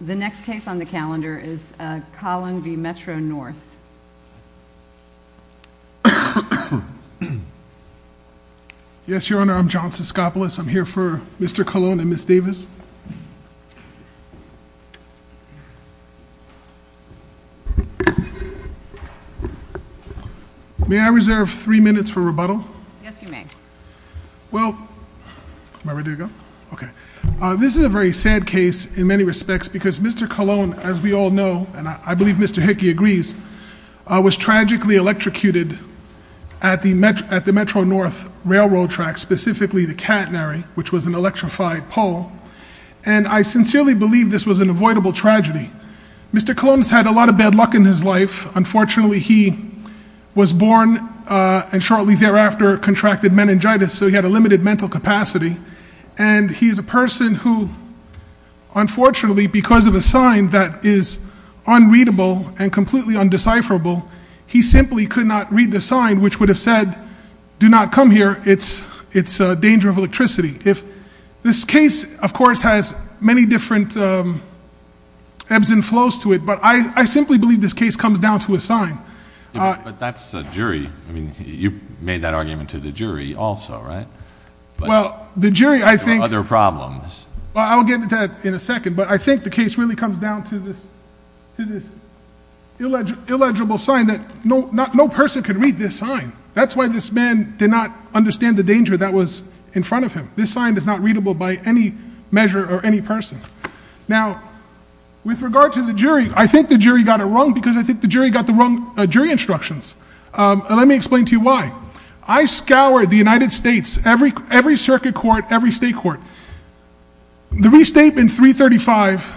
The next case on the calendar is Collin v. Metro-North. Yes, Your Honor, I'm John Siskopoulos. I'm here for Mr. Colon and Ms. Davis. May I reserve three minutes for rebuttal? Yes, you may. Well, am I ready to go? Okay. This is a very sad case in many respects because Mr. Colon, as we all know, and I believe Mr. Hickey agrees, was tragically electrocuted at the Metro-North railroad tracks, specifically the catenary, which was an electrified pole. And I sincerely believe this was an avoidable tragedy. Mr. Colon has had a lot of bad luck in his life. Unfortunately, he was born and shortly thereafter contracted meningitis, so he had a limited mental capacity. And he's a person who, unfortunately, because of a sign that is unreadable and completely undecipherable, he simply could not read the sign, which would have said, do not come here, it's a danger of electricity. This case, of course, has many different ebbs and flows to it, but I simply believe this case comes down to a sign. But that's a jury. I mean, you made that argument to the jury also, right? Well, the jury, I think- Other problems. Well, I'll get to that in a second, but I think the case really comes down to this illegible sign that no person could read this sign. That's why this man did not understand the danger that was in front of him. This sign is not readable by any measure or any person. Now, with regard to the jury, I think the jury got it wrong because I think the jury got the wrong jury instructions. Let me explain to you why. I scoured the United States, every circuit court, every state court. The restatement 335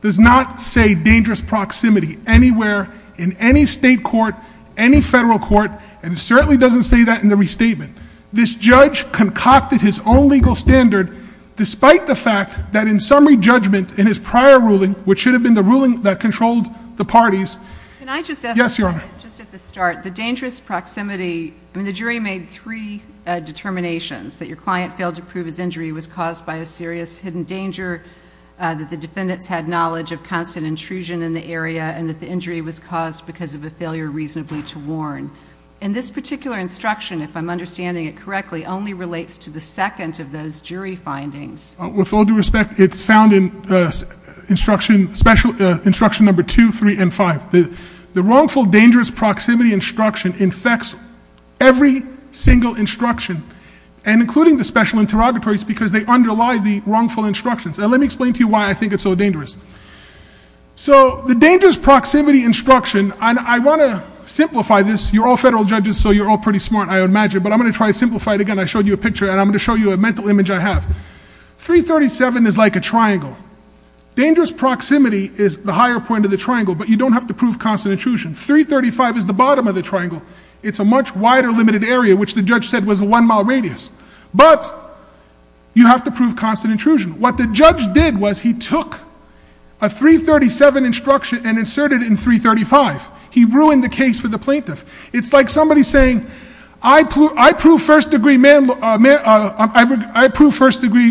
does not say dangerous proximity anywhere in any state court, any federal court, and it certainly doesn't say that in the restatement. This judge concocted his own legal standard despite the fact that in summary judgment in his prior ruling, which should have been the ruling that controlled the parties- Can I just ask- Yes, Your Honor. Just at the start, the dangerous proximity, I mean, the jury made three determinations, that your client failed to prove his injury was caused by a serious hidden danger, that the defendants had knowledge of constant intrusion in the area, and that the injury was caused because of a failure reasonably to warn. And this particular instruction, if I'm understanding it correctly, only relates to the second of those jury findings. With all due respect, it's found in instruction number 2, 3, and 5. The wrongful dangerous proximity instruction infects every single instruction, and including the special interrogatories, because they underlie the wrongful instructions. Now, let me explain to you why I think it's so dangerous. So, the dangerous proximity instruction, and I want to simplify this. You're all federal I would imagine, but I'm going to try to simplify it again. I showed you a picture, and I'm going to show you a mental image I have. 337 is like a triangle. Dangerous proximity is the higher point of the triangle, but you don't have to prove constant intrusion. 335 is the bottom of the triangle. It's a much wider limited area, which the judge said was a one-mile radius, but you have to prove constant intrusion. What the judge did was he took a 337 instruction and inserted it in 335. He ruined the case for the plaintiff. It's like somebody saying, I prove first-degree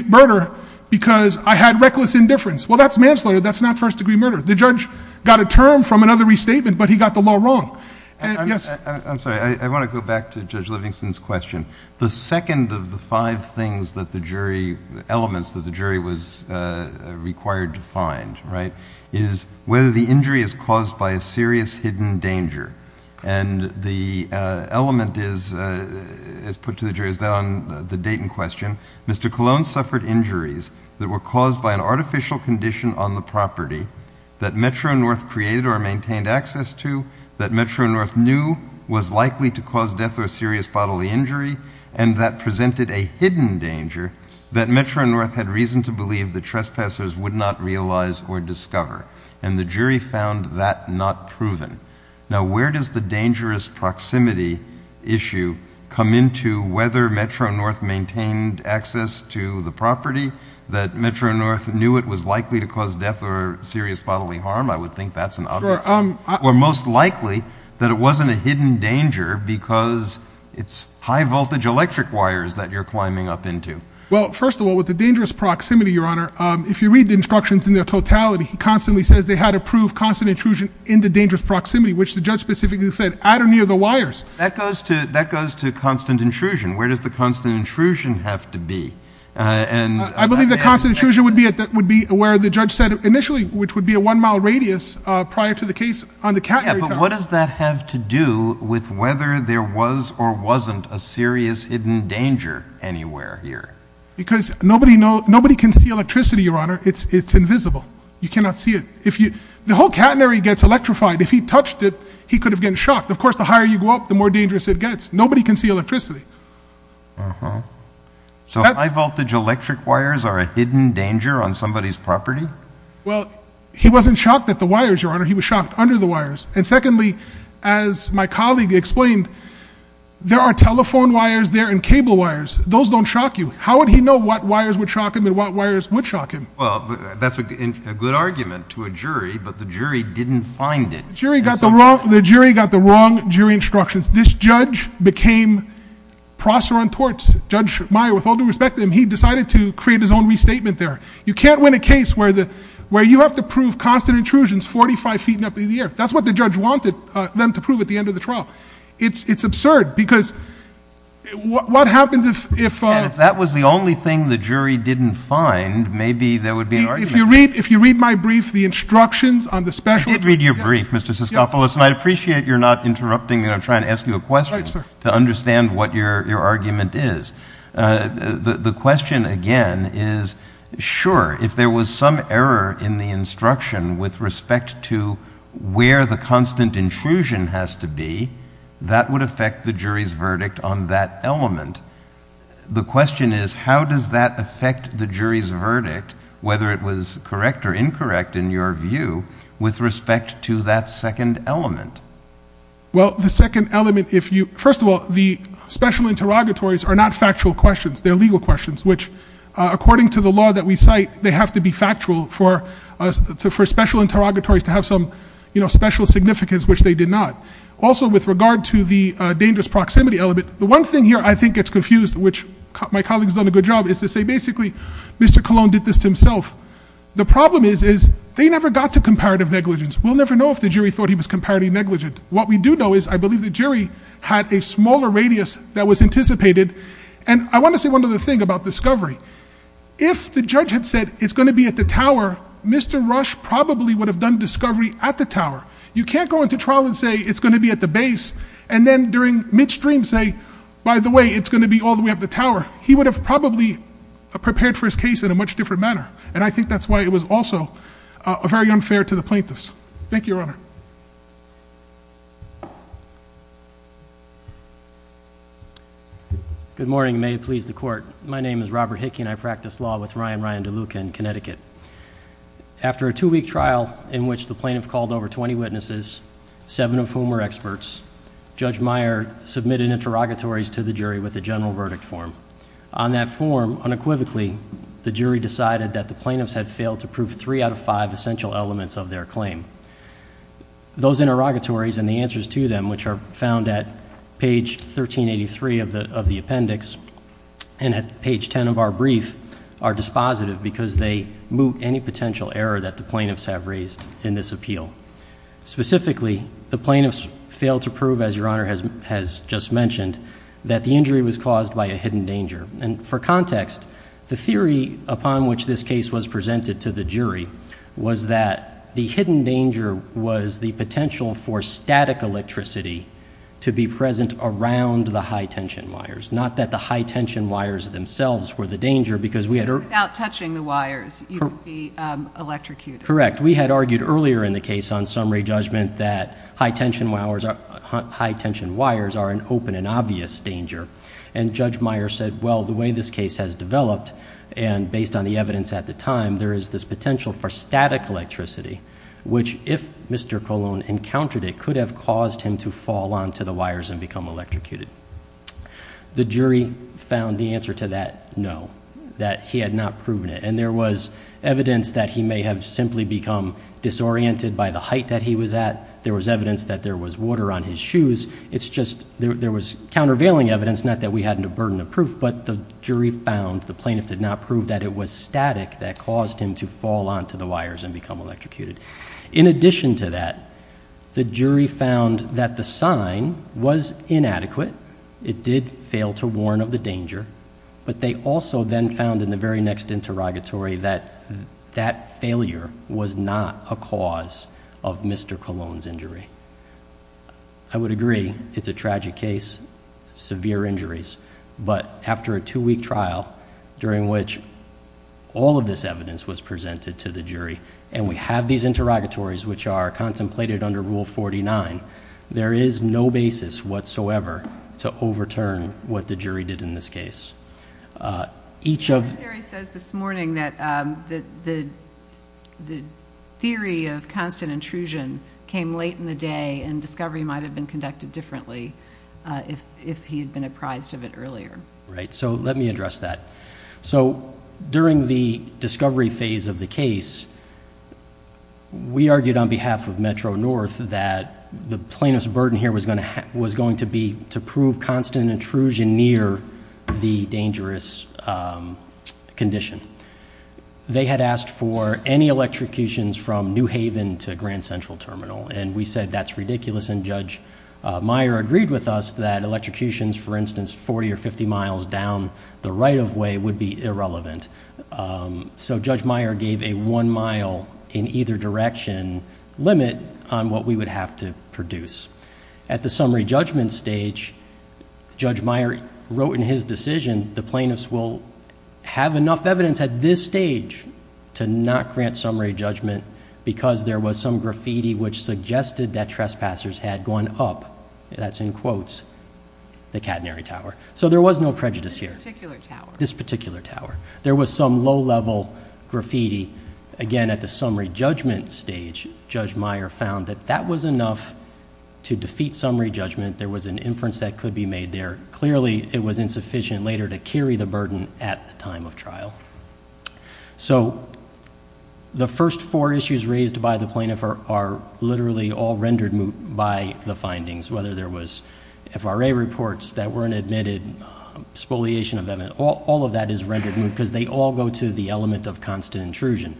murder because I had reckless indifference. Well, that's manslaughter. That's not first-degree murder. The judge got a term from another restatement, but he got the law wrong. I'm sorry. I want to go back to Judge Livingston's question. The second of the five elements that the jury was required to find is whether the injury is caused by a serious hidden danger. The element is put to the jury is that on the Dayton question, Mr. Colon suffered injuries that were caused by an artificial condition on the property that Metro-North created or maintained access to, that Metro-North knew was likely to cause death or serious bodily injury, and that presented a hidden danger that Metro-North had reason to believe the trespassers would not realize or discover. The jury found that not proven. Now, where does the dangerous proximity issue come into whether Metro-North maintained access to the property that Metro-North knew it was likely to cause death or serious bodily harm? I would think that's an obvious one, or most likely that it wasn't a hidden danger because it's high-voltage electric wires that you're climbing up into. Well, first of all, with the dangerous proximity, Your Honor, if you read the instructions in their totality, he constantly says they had to prove constant intrusion in the dangerous proximity, which the judge specifically said at or near the wires. That goes to constant intrusion. Where does the constant intrusion have to be? I believe that constant intrusion would be where the judge said initially, which would be a one on the catenary. Yeah, but what does that have to do with whether there was or wasn't a serious hidden danger anywhere here? Because nobody can see electricity, Your Honor. It's invisible. You cannot see it. The whole catenary gets electrified. If he touched it, he could have been shocked. Of course, the higher you go up, the more dangerous it gets. Nobody can see electricity. So high-voltage electric wires are a hidden danger on somebody's property? Well, he wasn't shocked at the wires, Your Honor. He was shocked under the wires. And secondly, as my colleague explained, there are telephone wires there and cable wires. Those don't shock you. How would he know what wires would shock him and what wires would shock him? Well, that's a good argument to a jury, but the jury didn't find it. The jury got the wrong jury instructions. This judge became proser on torts. Judge Meyer, with all due respect to him, he decided to create his own restatement there. You can't win a case where you have to prove constant intrusions 45 feet in the air. That's what the judge wanted them to prove at the end of the trial. It's absurd, because what happens if— And if that was the only thing the jury didn't find, maybe there would be an argument. If you read my brief, the instructions on the special— I did read your brief, Mr. Siskopoulos, and I appreciate you're not interrupting me when I'm trying to ask you a question to understand what your argument is. The question, again, is, sure, if there was some error in the instruction with respect to where the constant intrusion has to be, that would affect the jury's verdict on that element. The question is, how does that affect the jury's verdict, whether it was correct or incorrect, in your view, with respect to that second element? Well, the second element, first of all, the special interrogatories are not factual questions. They're legal questions, which, according to the law that we cite, they have to be factual for special interrogatories to have some special significance, which they did not. Also, with regard to the dangerous proximity element, the one thing here I think gets confused, which my colleague's done a good job, is to say, basically, Mr. Colon did this to himself. The problem is, they never got to comparative negligence. We'll never know if the jury thought he was comparative negligent. What we do know is, I believe the jury had a smaller radius that was anticipated. And I want to say one other thing about discovery. If the judge had said, it's going to be at the tower, Mr. Rush probably would have done discovery at the tower. You can't go into trial and say, it's going to be at the base, and then, during midstream, say, by the way, it's going to be all the way up the tower. He would have probably prepared for his case in a much different manner. And I think that's why was also very unfair to the plaintiffs. Thank you, Your Honor. Good morning. May it please the court. My name is Robert Hickey, and I practice law with Ryan Ryan DeLuca in Connecticut. After a two-week trial in which the plaintiff called over 20 witnesses, seven of whom were experts, Judge Meyer submitted interrogatories to the jury with a general three out of five essential elements of their claim. Those interrogatories and the answers to them, which are found at page 1383 of the appendix and at page 10 of our brief, are dispositive because they moot any potential error that the plaintiffs have raised in this appeal. Specifically, the plaintiffs failed to prove, as Your Honor has just mentioned, that the injury was caused by a hidden danger. And for context, the theory upon which this case was presented to the jury was that the hidden danger was the potential for static electricity to be present around the high-tension wires, not that the high-tension wires themselves were the danger because we had... Without touching the wires, you would be electrocuted. Correct. We had argued earlier in the case on summary judgment that high-tension wires are an open and obvious danger. And Judge Meyer said, well, the way this case has developed, and based on the evidence at the time, there is this potential for static electricity, which if Mr. Colon encountered it, could have caused him to fall onto the wires and become electrocuted. The jury found the answer to that, no, that he had not proven it. And there was evidence that he may have simply become disoriented by the height that he was at. There was evidence that there was water on his shoes. It's just there was countervailing evidence, not that we hadn't a burden of proof, but the jury found the plaintiff did not prove that it was static that caused him to fall onto the wires and become electrocuted. In addition to that, the jury found that the sign was inadequate. It did fail to warn of the danger, but they also then found in the very next interrogatory that that failure was not a cause of Mr. Colon's injury. I would agree it's a tragic case, severe injuries, but after a two-week trial during which all of this evidence was presented to the jury, and we have these interrogatories, which are contemplated under Rule 49, there is no basis whatsoever to overturn what the jury did in this case. Each of... And discovery might have been conducted differently if he had been apprised of it earlier. Right. So let me address that. So during the discovery phase of the case, we argued on behalf of Metro-North that the plaintiff's burden here was going to be to prove constant intrusion near the dangerous condition. They had asked for any electrocutions from New Haven to Grand Central Terminal, and we said that's ridiculous, and Judge Meyer agreed with us that electrocutions, for instance, 40 or 50 miles down the right-of-way would be irrelevant. So Judge Meyer gave a one-mile in either direction limit on what we would have to produce. At the summary judgment stage, Judge Meyer wrote in his decision the because there was some graffiti which suggested that trespassers had gone up, that's in quotes, the catenary tower. So there was no prejudice here. This particular tower. This particular tower. There was some low-level graffiti. Again, at the summary judgment stage, Judge Meyer found that that was enough to defeat summary judgment. There was an inference that could be made there. Clearly, it was insufficient later to carry the burden at the time of trial. So the first four issues raised by the plaintiff are literally all rendered moot by the findings, whether there was FRA reports that weren't admitted, spoliation of evidence, all of that is rendered moot because they all go to the element of constant intrusion.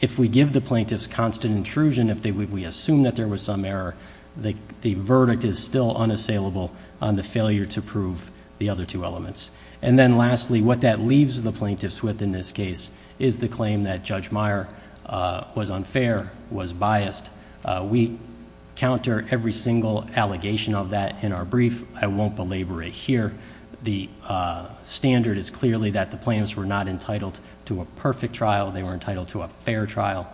If we give the plaintiff's constant intrusion, if we assume that there was some error, the verdict is still unassailable on the failure to prove the other two elements. And then lastly, what that leaves the plaintiff's with in this case is the claim that Judge Meyer was unfair, was biased. We counter every single allegation of that in our brief. I won't belabor it here. The standard is clearly that the plaintiffs were not entitled to a perfect trial. They were entitled to a fair trial.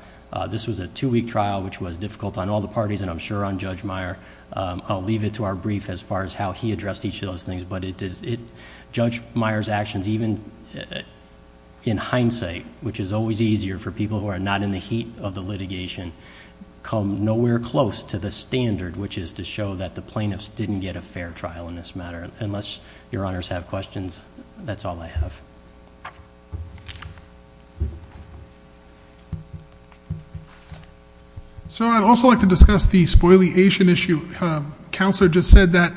This was a two-week trial, which was difficult on all the parties, and I'm sure on Judge Meyer. I'll leave it to our brief as far as how he addressed each of those things. But Judge Meyer's actions, even in hindsight, which is always easier for people who are not in the heat of the litigation, come nowhere close to the standard, which is to show that the plaintiffs didn't get a fair trial in this matter. Unless your honors have questions, that's all I have. So I'd also like to discuss the spoliation issue. Counselor just said that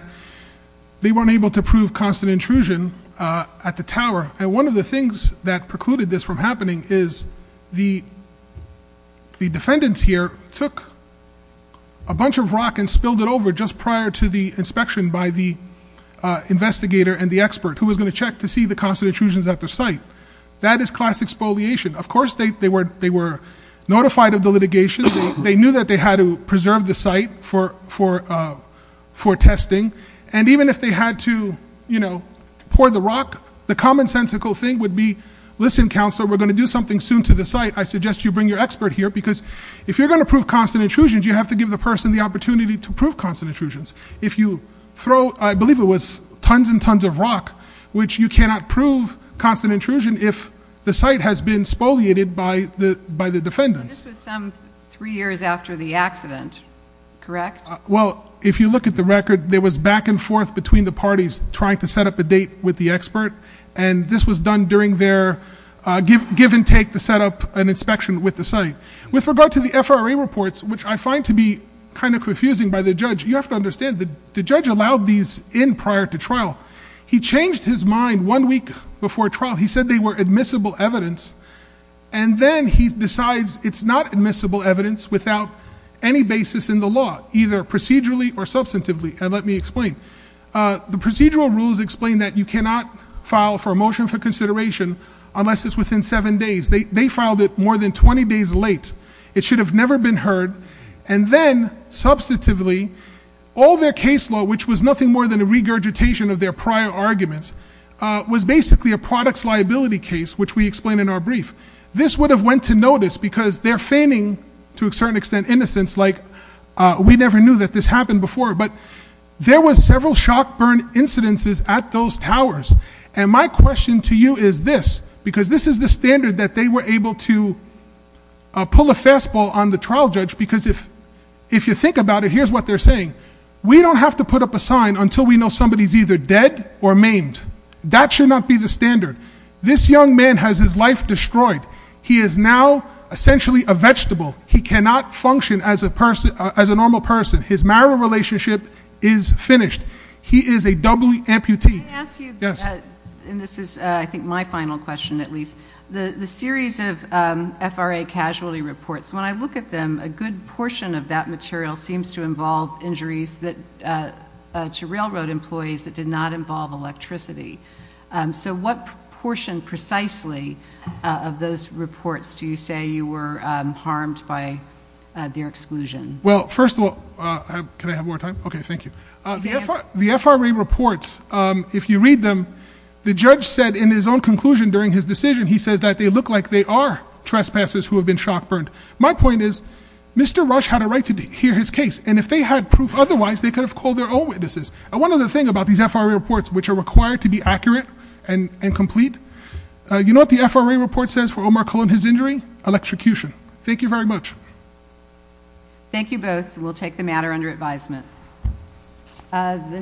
they weren't able to prove constant intrusion at the tower. And one of the things that precluded this from happening is the defendants here took a bunch of rock and spilled it over just prior to the inspection by the investigator and the expert who was going to check to see the constant intrusions at the site. That is classic spoliation. Of course, they were notified of the litigation. They knew that they had to preserve the site for testing. And even if they had to pour the rock, the commonsensical thing would be, listen, counselor, we're going to do something soon to the site. I suggest you bring your expert here because if you're going to prove constant intrusions, you have to give the person the opportunity to prove constant intrusions. If you throw, I believe it was tons and tons of rock, which you cannot prove constant intrusion if the site has been spoliated by the defendants. This was some three years after the accident, correct? Well, if you look at the record, there was back and forth between the parties trying to set up a date with the expert. And this was done during their give and take to set up an inspection with the site. With regard to the FRA reports, which I find to be kind of confusing by the judge, you have to understand that the judge allowed these in prior to trial. He changed his mind one week before trial. He said they were admissible evidence. And then he decides it's not admissible evidence without any basis in the law, either procedurally or substantively. And let me explain. The procedural rules explain that you cannot file for a motion for consideration unless it's within seven days. They filed it more than 20 days late. It should have never been heard. And then substantively, all their case law, which was nothing more than a regurgitation of their prior arguments, was basically a products liability case, which we explain in our brief. This would have went to notice because they're feigning, to a certain extent, innocence, like we never knew that this happened before. But there was several shock burn incidences at those towers. And my question to you is this, because this is the standard that they were able to pull a fastball on the trial judge. Because if you think about it, here's what they're saying. We don't have to put up a sign until we know somebody's either dead or maimed. That should not be the standard. This young man has his life destroyed. He is now essentially a vegetable. He cannot function as a normal person. His marital relationship is finished. He is a double amputee. Can I ask you, and this is I think my final question at least, the series of FRA casualty reports, when I look at them, a good portion of that material seems to involve injuries to railroad employees that did not involve electricity. So what portion precisely of those reports do you say you were harmed by their exclusion? Well, first of all, can I have more time? Okay, thank you. The FRA reports, if you read them, the judge said in his own conclusion during his decision, he says that they look like they are shock burned. My point is, Mr. Rush had a right to hear his case, and if they had proof otherwise, they could have called their own witnesses. And one other thing about these FRA reports, which are required to be accurate and complete, you know what the FRA report says for Omar Colon, his injury? Electrocution. Thank you very much. Thank you both. We'll take the matter under advisement.